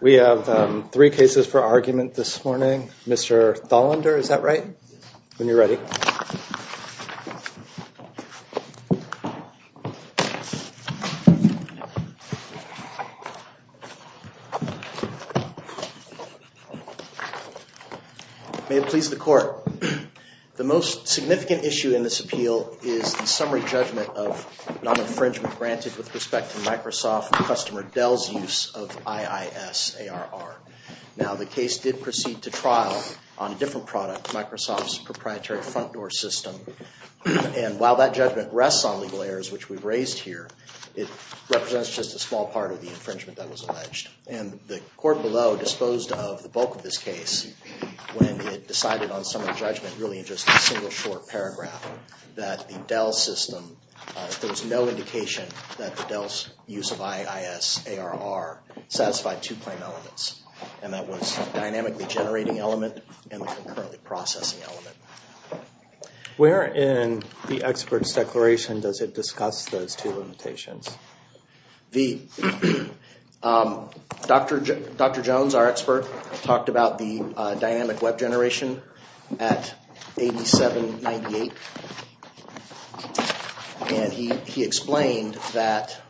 We have three cases for argument this morning. Mr. Tholander, is that right? When you're ready. May it please the court. The most significant issue in this appeal is the summary judgment of non-infringement granted with respect to Microsoft customer Dell's use of IIS ARR. Now the case did proceed to trial on a different product, Microsoft's proprietary front door system. And while that judgment rests on legal errors, which we've raised here, it represents just a small part of the infringement that was alleged. And the court below disposed of the bulk of this case when it decided on summary judgment, really in just a single short paragraph, that the Dell system, there was no indication that the Dell's use of IIS ARR satisfied two plain elements. And that was dynamically generating element and the concurrent processing element. Where in the expert's declaration does it discuss those two limitations? Dr. Jones, our expert, talked about the dynamic web generation at 8798. And he explained that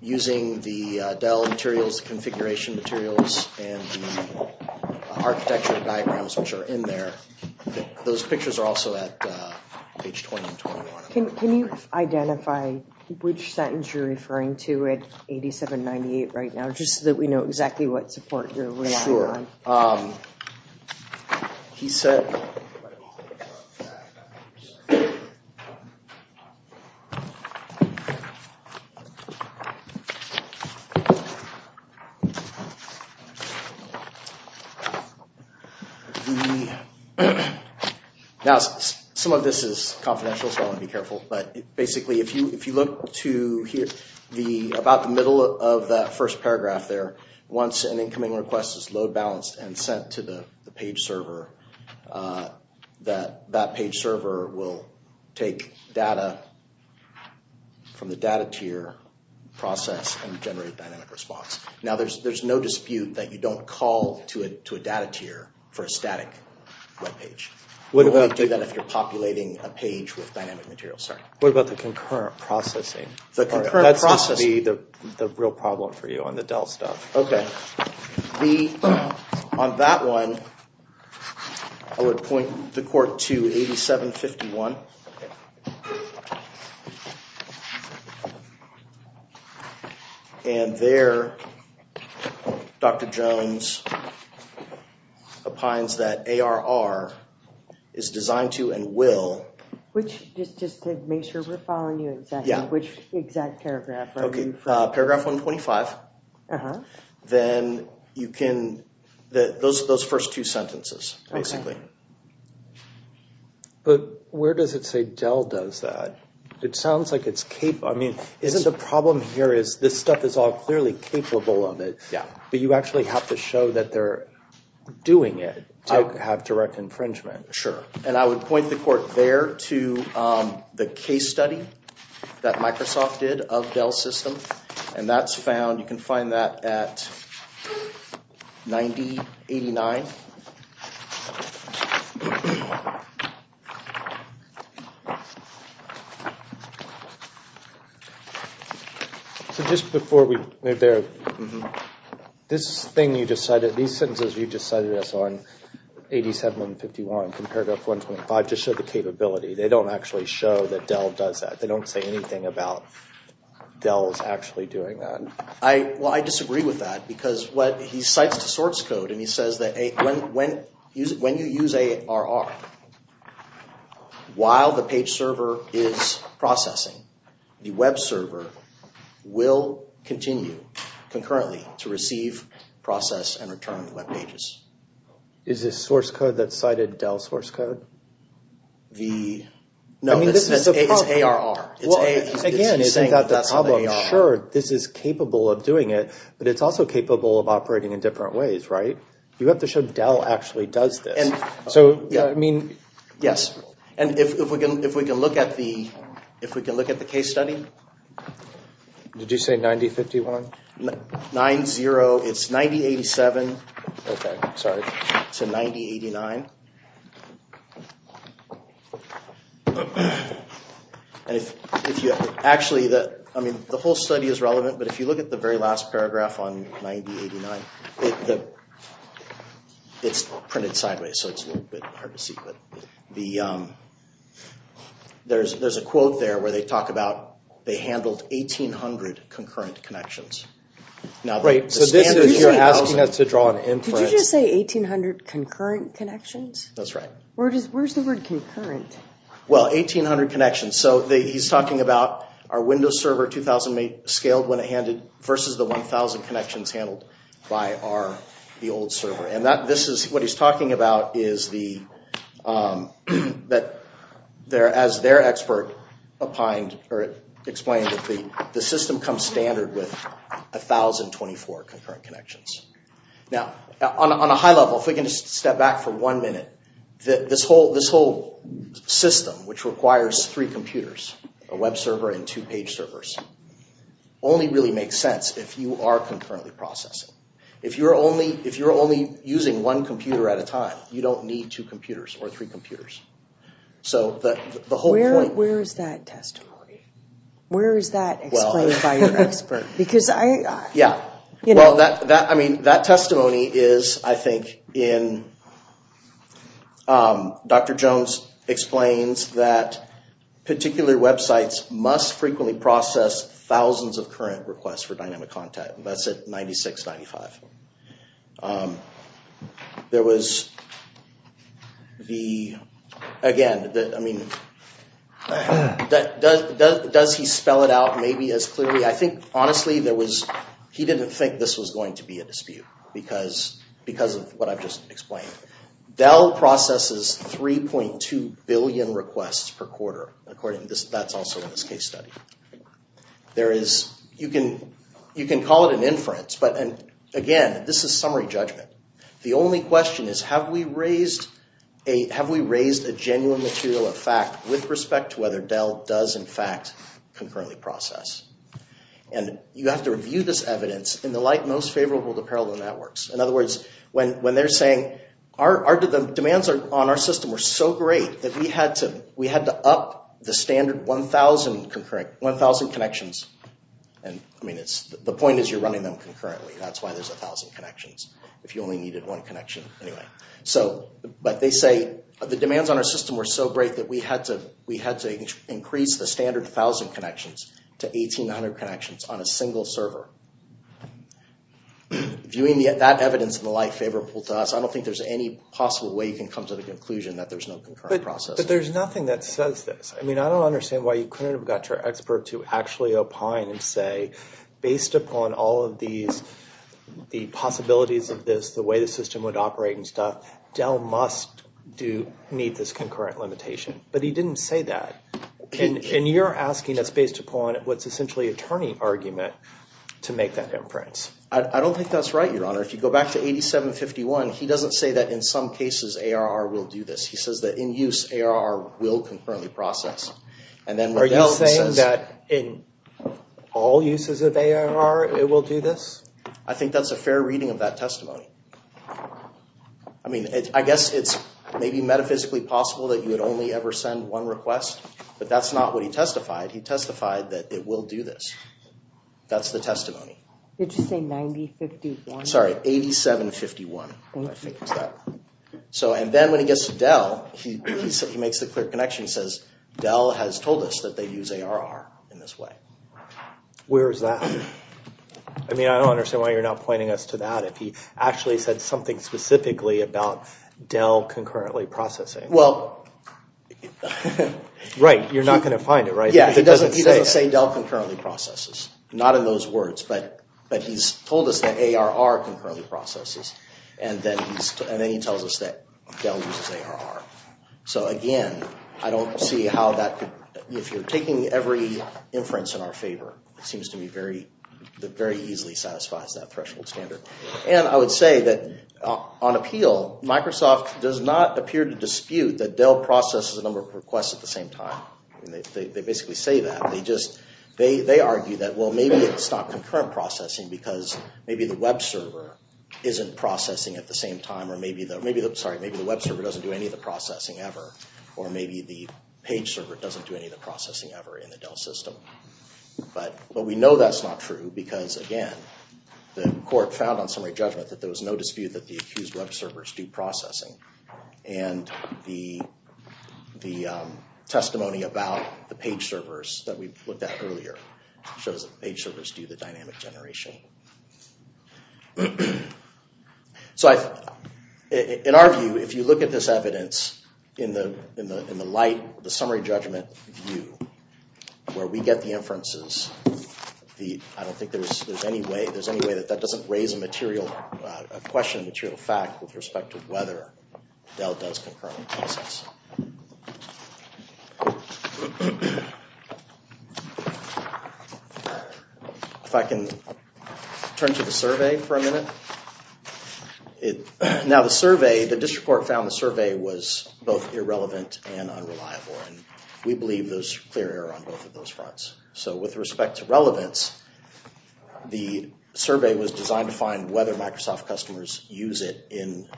using the Dell materials, configuration materials, and the architecture diagrams which are in there, those pictures are also at page 20 and 21. Can you identify which sentence you're referring to at 8798 right now, just so that we know exactly what support you're relying on? He said, now some of this is confidential, so I'll be careful. But basically if you look to here, about the middle of that first paragraph there, once an incoming request is load balanced and sent to the page server, that page server will take data from the data tier process and generate dynamic response. Now there's no dispute that you don't call to a data tier for a static web page. You only do that if you're populating a page with dynamic materials. What about the concurrent processing? That seems to be the real problem for you on the Dell stuff. Okay. On that one, I would point the court to 8751. And there, Dr. Jones opines that ARR is designed to and will... Just to make sure we're following you exactly, which exact paragraph are you referring to? Paragraph 125. Then you can... Those first two sentences, basically. But where does it say Dell does that? It sounds like it's capable... I mean, isn't the problem here is this stuff is all clearly capable of it. Yeah. But you actually have to show that they're doing it to have direct infringement. Sure. And I would point the court there to the case study that Microsoft did of Dell's system. And that's found, you can find that at 9089. So just before we move there, this thing you just cited, these sentences you just cited us on, 8751, paragraph 125, just show the capability. They don't actually show that Dell does that. They don't say anything about Dell's actually doing that. Well, I disagree with that because he cites the source code and he says that when you use ARR, while the page server is processing, the web server will continue concurrently to receive, process, and return web pages. Is this source code that cited Dell's source code? No, it's ARR. Again, is that the problem? Sure, this is capable of doing it, but it's also capable of operating in different ways, right? You have to show Dell actually does this. Yes. And if we can look at the case study. Did you say 9051? 90, it's 9087, sorry, to 9089. Actually, the whole study is relevant, but if you look at the very last paragraph on 9089, it's printed sideways, so it's a little bit hard to see. There's a quote there where they talk about they handled 1800 concurrent connections. Right, so this is you're asking us to draw an inference. Did you just say 1800 concurrent connections? That's right. Where's the word concurrent? Well, 1800 connections, so he's talking about our Windows Server 2008 scaled when it handed versus the 1000 connections handled by the old server. And what he's talking about is that as their expert explained, the system comes standard with 1024 concurrent connections. Now, on a high level, if we can just step back for one minute, this whole system, which requires three computers, a web server and two page servers, only really makes sense if you are concurrently processing. If you're only using one computer at a time, you don't need two computers or three computers. Where is that testimony? Where is that explained by your expert? Yeah, well, that testimony is, I think, in Dr. Jones explains that particular websites must frequently process thousands of current requests for dynamic contact. That's at 9695. There was the, again, I mean, does he spell it out maybe as clearly? I think, honestly, there was, he didn't think this was going to be a dispute because of what I've just explained. Dell processes 3.2 billion requests per quarter, according, that's also in this case study. There is, you can call it an inference, but again, this is summary judgment. The only question is, have we raised a genuine material of fact with respect to whether Dell does, in fact, concurrently process? And you have to review this evidence in the light most favorable to parallel networks. In other words, when they're saying, the demands on our system were so great that we had to up the standard 1,000 connections. And, I mean, the point is you're running them concurrently. That's why there's 1,000 connections, if you only needed one connection. Anyway, so, but they say the demands on our system were so great that we had to increase the standard 1,000 connections to 1,800 connections on a single server. Viewing that evidence in the light favorable to us, I don't think there's any possible way you can come to the conclusion that there's no concurrent process. But there's nothing that says this. I mean, I don't understand why you couldn't have got your expert to actually opine and say, based upon all of these, the possibilities of this, the way the system would operate and stuff, Dell must need this concurrent limitation. But he didn't say that. And you're asking that's based upon what's essentially a turning argument to make that inference. I don't think that's right, Your Honor. If you go back to 8751, he doesn't say that in some cases ARR will do this. He says that in use, ARR will concurrently process. Are you saying that in all uses of ARR, it will do this? I think that's a fair reading of that testimony. I mean, I guess it's maybe metaphysically possible that you would only ever send one request. But that's not what he testified. He testified that it will do this. That's the testimony. Did you say 9051? Sorry, 8751. And then when he gets to Dell, he makes the clear connection. He says, Dell has told us that they use ARR in this way. Where is that? I mean, I don't understand why you're not pointing us to that. If he actually said something specifically about Dell concurrently processing. Well... Right. You're not going to find it, right? He doesn't say Dell concurrently processes. Not in those words. But he's told us that ARR concurrently processes. And then he tells us that Dell uses ARR. So again, I don't see how that could... If you're taking every inference in our favor, it seems to me very easily satisfies that threshold standard. And I would say that on appeal, Microsoft does not appear to dispute that Dell processes a number of requests at the same time. They basically say that. They argue that, well, maybe it's not concurrent processing because maybe the web server isn't processing at the same time. Or maybe the web server doesn't do any of the processing ever. Or maybe the page server doesn't do any of the processing ever in the Dell system. But we know that's not true because, again, the court found on summary judgment that there was no dispute that the accused web servers do processing. And the testimony about the page servers that we looked at earlier shows that page servers do the dynamic generation. So in our view, if you look at this evidence in the light, the summary judgment view, where we get the inferences, I don't think there's any way that that doesn't raise a question of material fact with respect to whether Dell does concurrent processing. If I can turn to the survey for a minute. Now the survey, the district court found the survey was both irrelevant and unreliable. And we believe there's clear error on both of those fronts. So with respect to relevance, the survey was designed to find whether Microsoft customers use it in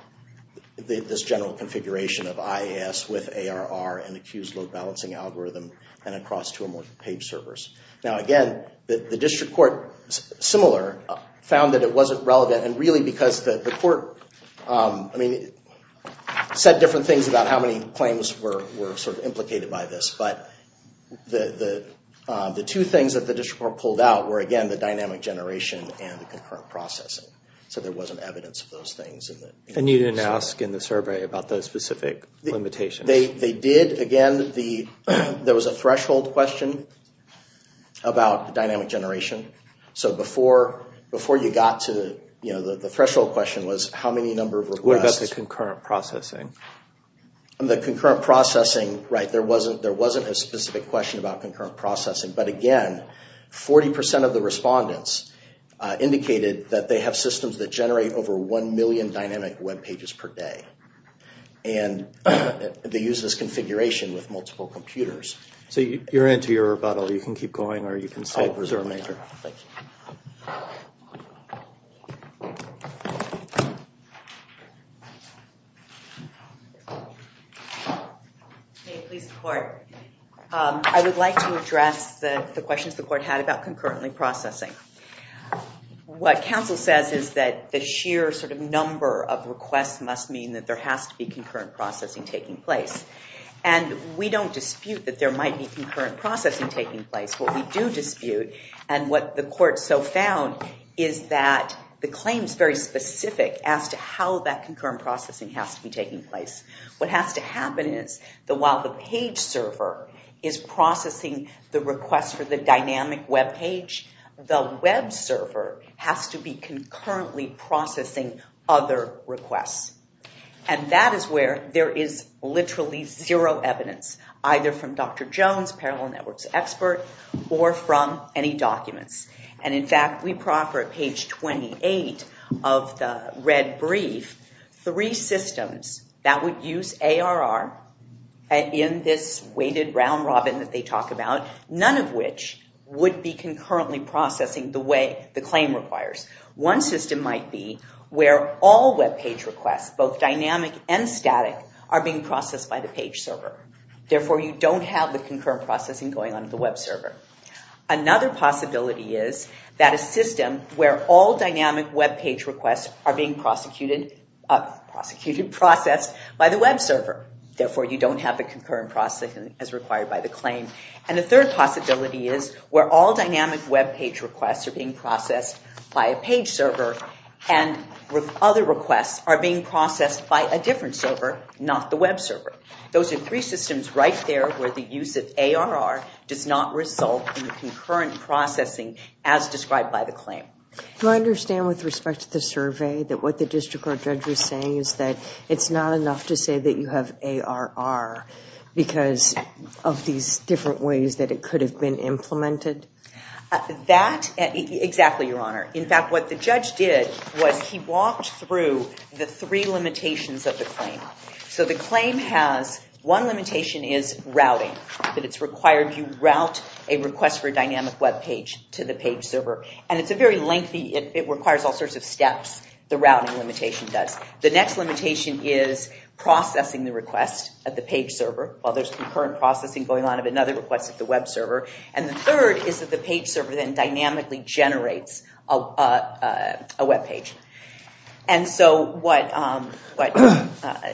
this general configuration of IAS with ARR and accused load balancing algorithm and across two or more page servers. Now again, the district court, similar, found that it wasn't relevant. And really because the court said different things about how many claims were sort of implicated by this. But the two things that the district court pulled out were, again, the dynamic generation and the concurrent processing. So there wasn't evidence of those things. And you didn't ask in the survey about those specific limitations. They did. Again, there was a threshold question about dynamic generation. So before you got to, you know, the threshold question was how many number of requests. What about the concurrent processing? The concurrent processing, right, there wasn't a specific question about concurrent processing. But again, 40% of the respondents indicated that they have systems that generate over one million dynamic web pages per day. And they use this configuration with multiple computers. So you're into your rebuttal. You can keep going or you can stay. I'll preserve my turn. Thank you. May it please the court. I would like to address the questions the court had about concurrently processing. What counsel says is that the sheer sort of number of requests must mean that there has to be concurrent processing taking place. And we don't dispute that there might be concurrent processing taking place. That's what we do dispute. And what the court so found is that the claim is very specific as to how that concurrent processing has to be taking place. What has to happen is that while the page server is processing the request for the dynamic web page, the web server has to be concurrently processing other requests. And that is where there is literally zero evidence, either from Dr. Jones, Parallel Networks expert, or from any documents. And in fact, we proffer at page 28 of the red brief three systems that would use ARR in this weighted round robin that they talk about, none of which would be concurrently processing the way the claim requires. One system might be where all web page requests, both dynamic and static, are being processed by the page server. Therefore, you don't have the concurrent processing going on to the web server. Another possibility is that a system where all dynamic web page requests are being prosecuted, processed by the web server. Therefore, you don't have the concurrent processing as required by the claim. And the third possibility is where all dynamic web page requests are being processed by a page server and other requests are being processed by a different server, not the web server. Those are three systems right there where the use of ARR does not result in the concurrent processing as described by the claim. Do I understand with respect to the survey that what the district court judge was saying is that it's not enough to say that you have ARR because of these different ways that it could have been implemented? That, exactly, Your Honor. In fact, what the judge did was he walked through the three limitations of the claim. So the claim has one limitation is routing, that it's required you route a request for a dynamic web page to the page server. And it's a very lengthy, it requires all sorts of steps, the routing limitation does. The next limitation is processing the request at the page server, while there's concurrent processing going on of another request at the web server. And the third is that the page server then dynamically generates a web page. And so what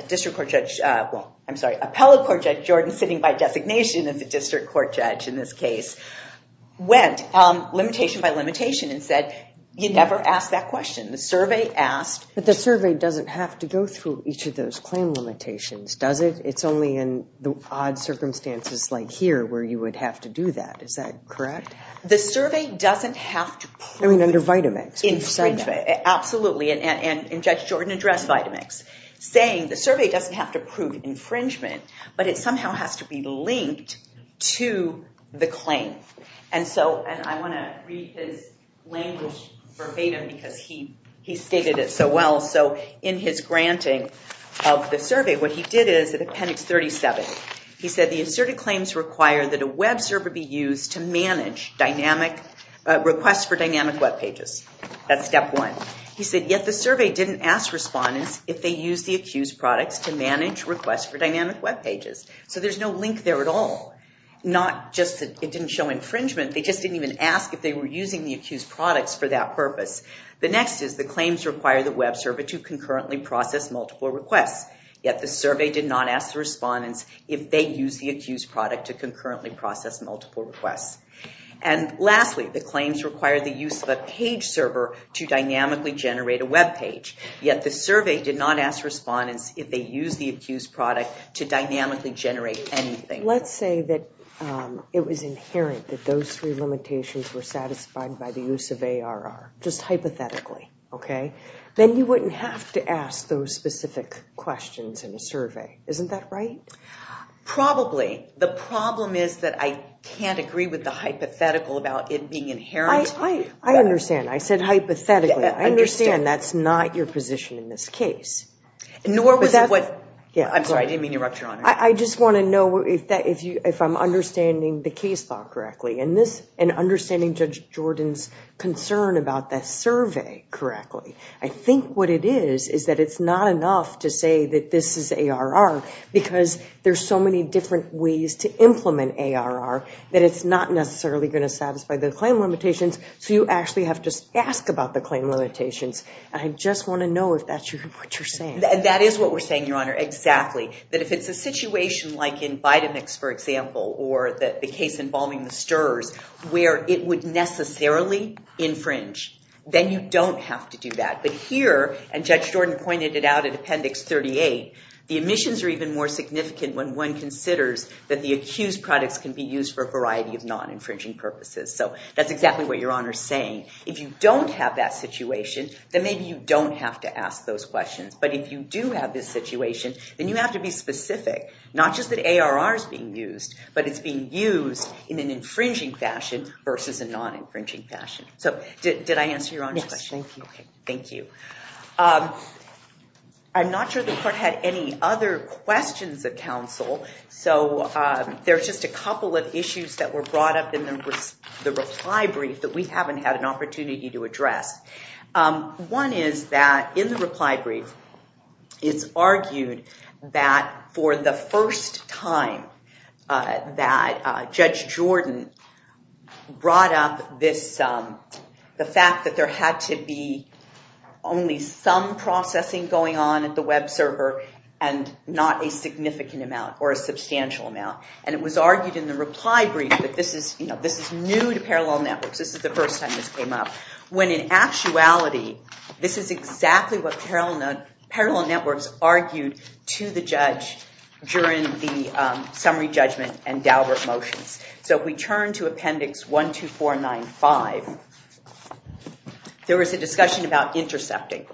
district court judge, well, I'm sorry, appellate court judge Jordan, sitting by designation of the district court judge in this case, went limitation by limitation and said, you never ask that question. The survey asked. But the survey doesn't have to go through each of those claim limitations, does it? It's only in the odd circumstances like here where you would have to do that. Is that correct? The survey doesn't have to prove. I mean, under Vitamix. Absolutely. And Judge Jordan addressed Vitamix, saying the survey doesn't have to prove infringement, but it somehow has to be linked to the claim. And I want to read his language for Vitam because he stated it so well. So in his granting of the survey, what he did is at Appendix 37, he said, the asserted claims require that a web server be used to manage requests for dynamic web pages. That's step one. He said, yet the survey didn't ask respondents if they used the accused products to manage requests for dynamic web pages. So there's no link there at all. Not just that it didn't show infringement. They just didn't even ask if they were using the accused products for that purpose. The next is the claims require the web server to concurrently process multiple requests. Yet the survey did not ask the respondents if they used the accused product to concurrently process multiple requests. And lastly, the claims require the use of a page server to dynamically generate a web page. Yet the survey did not ask respondents if they used the accused product to dynamically generate anything. Let's say that it was inherent that those three limitations were satisfied by the use of ARR, just hypothetically, okay? Then you wouldn't have to ask those specific questions in a survey. Isn't that right? Probably. The problem is that I can't agree with the hypothetical about it being inherent. I understand. I said hypothetically. I understand. Again, that's not your position in this case. Nor was it what? I'm sorry. I didn't mean to interrupt, Your Honor. I just want to know if I'm understanding the case thought correctly and understanding Judge Jordan's concern about that survey correctly. I think what it is is that it's not enough to say that this is ARR because there's so many different ways to implement ARR that it's not necessarily going to satisfy the claim limitations, so you actually have to ask about the claim limitations. I just want to know if that's what you're saying. That is what we're saying, Your Honor, exactly, that if it's a situation like in Vitamix, for example, or the case involving the STRS where it would necessarily infringe, then you don't have to do that. But here, and Judge Jordan pointed it out in Appendix 38, the omissions are even more significant when one considers that the accused products can be used for a variety of non-infringing purposes. So that's exactly what Your Honor is saying. If you don't have that situation, then maybe you don't have to ask those questions. But if you do have this situation, then you have to be specific, not just that ARR is being used, but it's being used in an infringing fashion versus a non-infringing fashion. So did I answer Your Honor's question? Yes, thank you. Thank you. I'm not sure the Court had any other questions of counsel, so there's just a couple of issues that were brought up in the reply brief that we haven't had an opportunity to address. One is that in the reply brief, it's argued that for the first time that Judge Jordan brought up the fact that there had to be only some processing going on at the web server and not a significant amount or a substantial amount. And it was argued in the reply brief that this is new to parallel networks, this is the first time this came up, when in actuality this is exactly what parallel networks argued to the judge during the summary judgment and Daubert motions. So if we turn to Appendix 12495, there was a discussion about intercepting.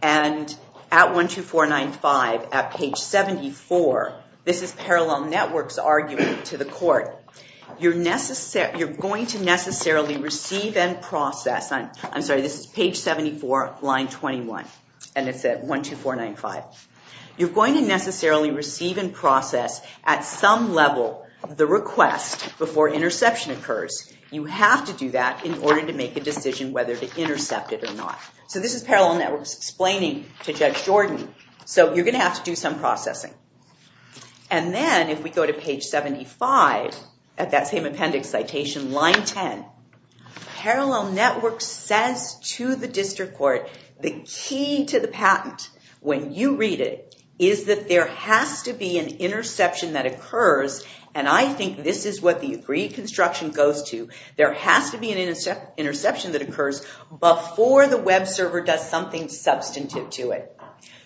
And at 12495, at page 74, this is parallel networks arguing to the court, you're going to necessarily receive and process. I'm sorry, this is page 74, line 21, and it's at 12495. You're going to necessarily receive and process at some level the request before interception occurs. You have to do that in order to make a decision whether to intercept it or not. So this is parallel networks explaining to Judge Jordan, so you're going to have to do some processing. And then if we go to page 75, at that same appendix citation, line 10, parallel networks says to the district court, the key to the patent, when you read it, is that there has to be an interception that occurs, and I think this is what the agreed construction goes to, there has to be an interception that occurs before the web server does something substantive to it.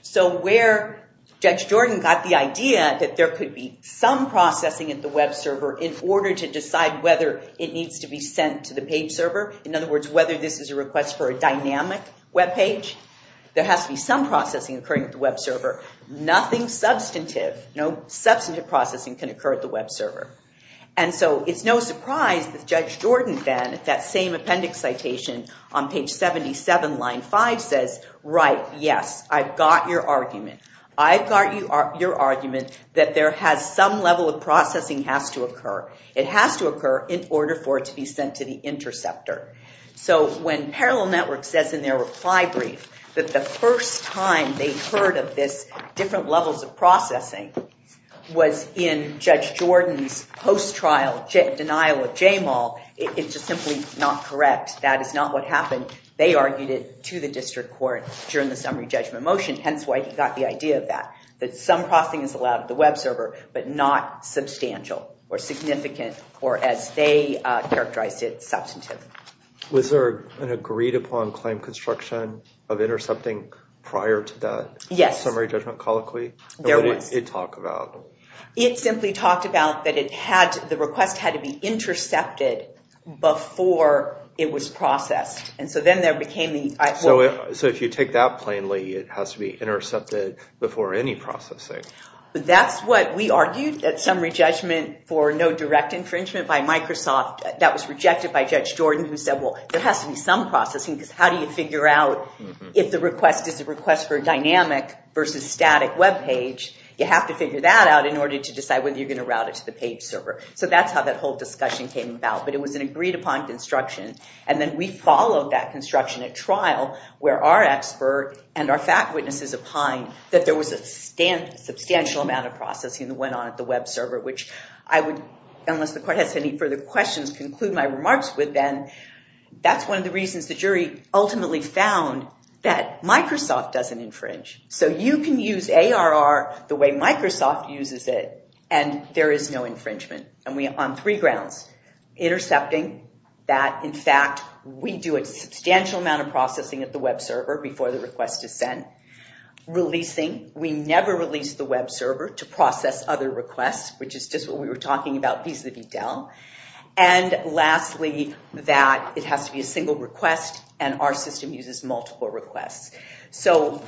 So where Judge Jordan got the idea that there could be some processing at the web server in order to decide whether it needs to be sent to the page server, in other words, whether this is a request for a dynamic web page, there has to be some processing occurring at the web server. Nothing substantive, no substantive processing can occur at the web server. And so it's no surprise that Judge Jordan then, at that same appendix citation, on page 77, line 5, says, right, yes, I've got your argument. I've got your argument that there has some level of processing has to occur. It has to occur in order for it to be sent to the interceptor. So when parallel networks says in their reply brief that the first time they heard of this different levels of processing was in Judge Jordan's post-trial denial of JAMAL, it's just simply not correct. That is not what happened. They argued it to the district court during the summary judgment motion, hence why he got the idea of that, that some processing is allowed at the web server but not substantial or significant or, as they characterized it, substantive. Was there an agreed-upon claim construction of intercepting prior to that summary judgment colloquy? There was. What did it talk about? It simply talked about that the request had to be intercepted before it was processed. And so then there became the idea. So if you take that plainly, it has to be intercepted before any processing. That's what we argued, that summary judgment for no direct infringement by Microsoft, that was rejected by Judge Jordan, who said, well, there has to be some processing because how do you figure out if the request is a request for a dynamic versus static web page? You have to figure that out in order to decide whether you're going to route it to the page server. So that's how that whole discussion came about. But it was an agreed-upon construction. And then we followed that construction at trial where our expert and our fact witnesses opined that there was a substantial amount of processing that went on at the web server, which I would, unless the court has any further questions, conclude my remarks with then. That's one of the reasons the jury ultimately found that Microsoft doesn't infringe. So you can use ARR the way Microsoft uses it, and there is no infringement. And we are on three grounds. Intercepting that, in fact, we do a substantial amount of processing at the web server before the request is sent. Releasing, we never release the web server to process other requests, which is just what we were talking about vis-à-vis Dell. And lastly, that it has to be a single request, and our system uses multiple requests. So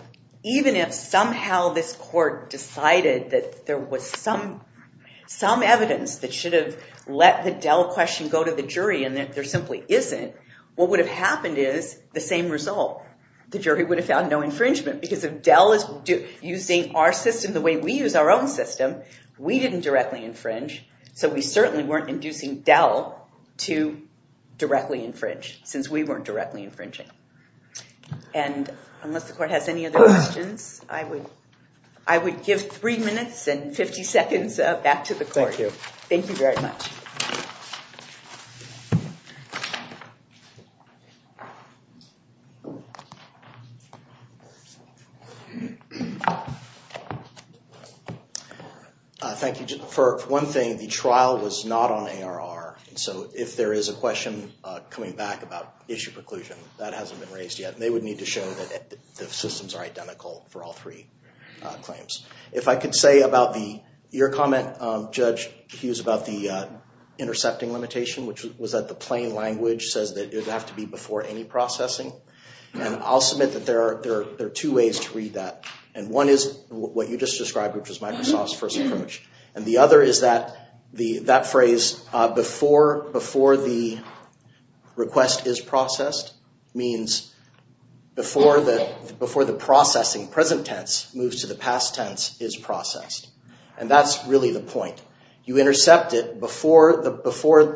even if somehow this court decided that there was some evidence that should have let the Dell question go to the jury and that there simply isn't, what would have happened is the same result. The jury would have found no infringement. Because if Dell is using our system the way we use our own system, we didn't directly infringe, so we certainly weren't inducing Dell to directly infringe since we weren't directly infringing. And unless the court has any other questions, I would give three minutes and 50 seconds back to the court. Thank you. Thank you very much. Thank you. For one thing, the trial was not on ARR. So if there is a question coming back about issue preclusion, that hasn't been raised yet. They would need to show that the systems are identical for all three claims. If I could say about your comment, Judge Hughes, about the intercepting limitation, which was that the plain language says that it would have to be before any processing. And I'll submit that there are two ways to read that. And one is what you just described, which is Microsoft's first infringement. And the other is that phrase, before the request is processed, means before the processing, present tense, moves to the past tense, is processed. And that's really the point. You intercept it before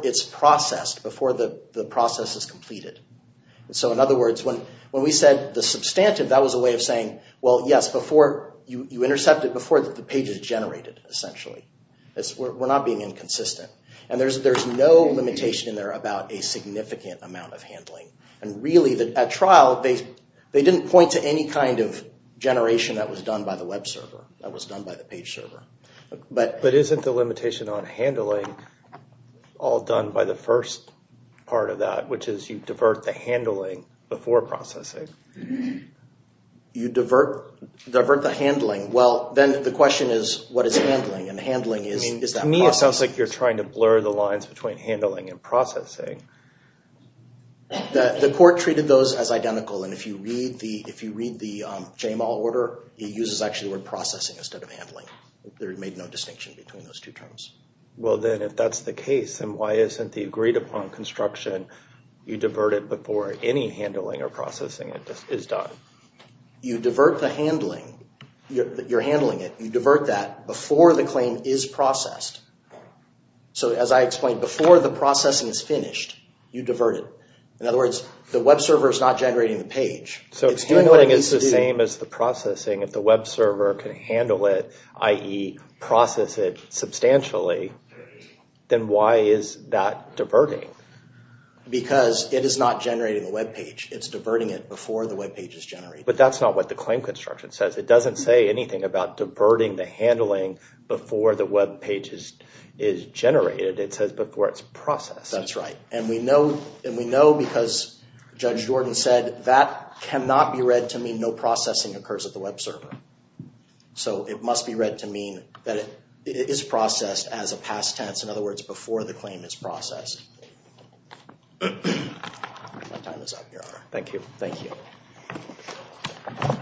it's processed, before the process is completed. So in other words, when we said the substantive, that was a way of saying, well, yes, you intercept it before the page is generated, essentially. We're not being inconsistent. And there's no limitation in there about a significant amount of handling. And really, at trial, they didn't point to any kind of generation that was done by the web server, that was done by the page server. But isn't the limitation on handling all done by the first part of that, which is you divert the handling before processing? You divert the handling. Well, then the question is, what is handling? And handling is that process. To me, it sounds like you're trying to blur the lines between handling and processing. The court treated those as identical. And if you read the JML order, it uses, actually, the word processing instead of handling. They made no distinction between those two terms. Well, then, if that's the case, then why isn't the agreed upon construction, you divert it before any handling or processing is done? You divert the handling. You're handling it. You divert that before the claim is processed. So, as I explained, before the processing is finished, you divert it. In other words, the web server is not generating the page. So, if handling is the same as the processing, if the web server can handle it, i.e., process it substantially, then why is that diverting? Because it is not generating the web page. It's diverting it before the web page is generated. But that's not what the claim construction says. It doesn't say anything about diverting the handling before the web page is generated. It says before it's processed. That's right. And we know because Judge Jordan said that cannot be read to mean no processing occurs at the web server. So, it must be read to mean that it is processed as a past tense. In other words, before the claim is processed. My time is up, Your Honor. Thank you. Thank you.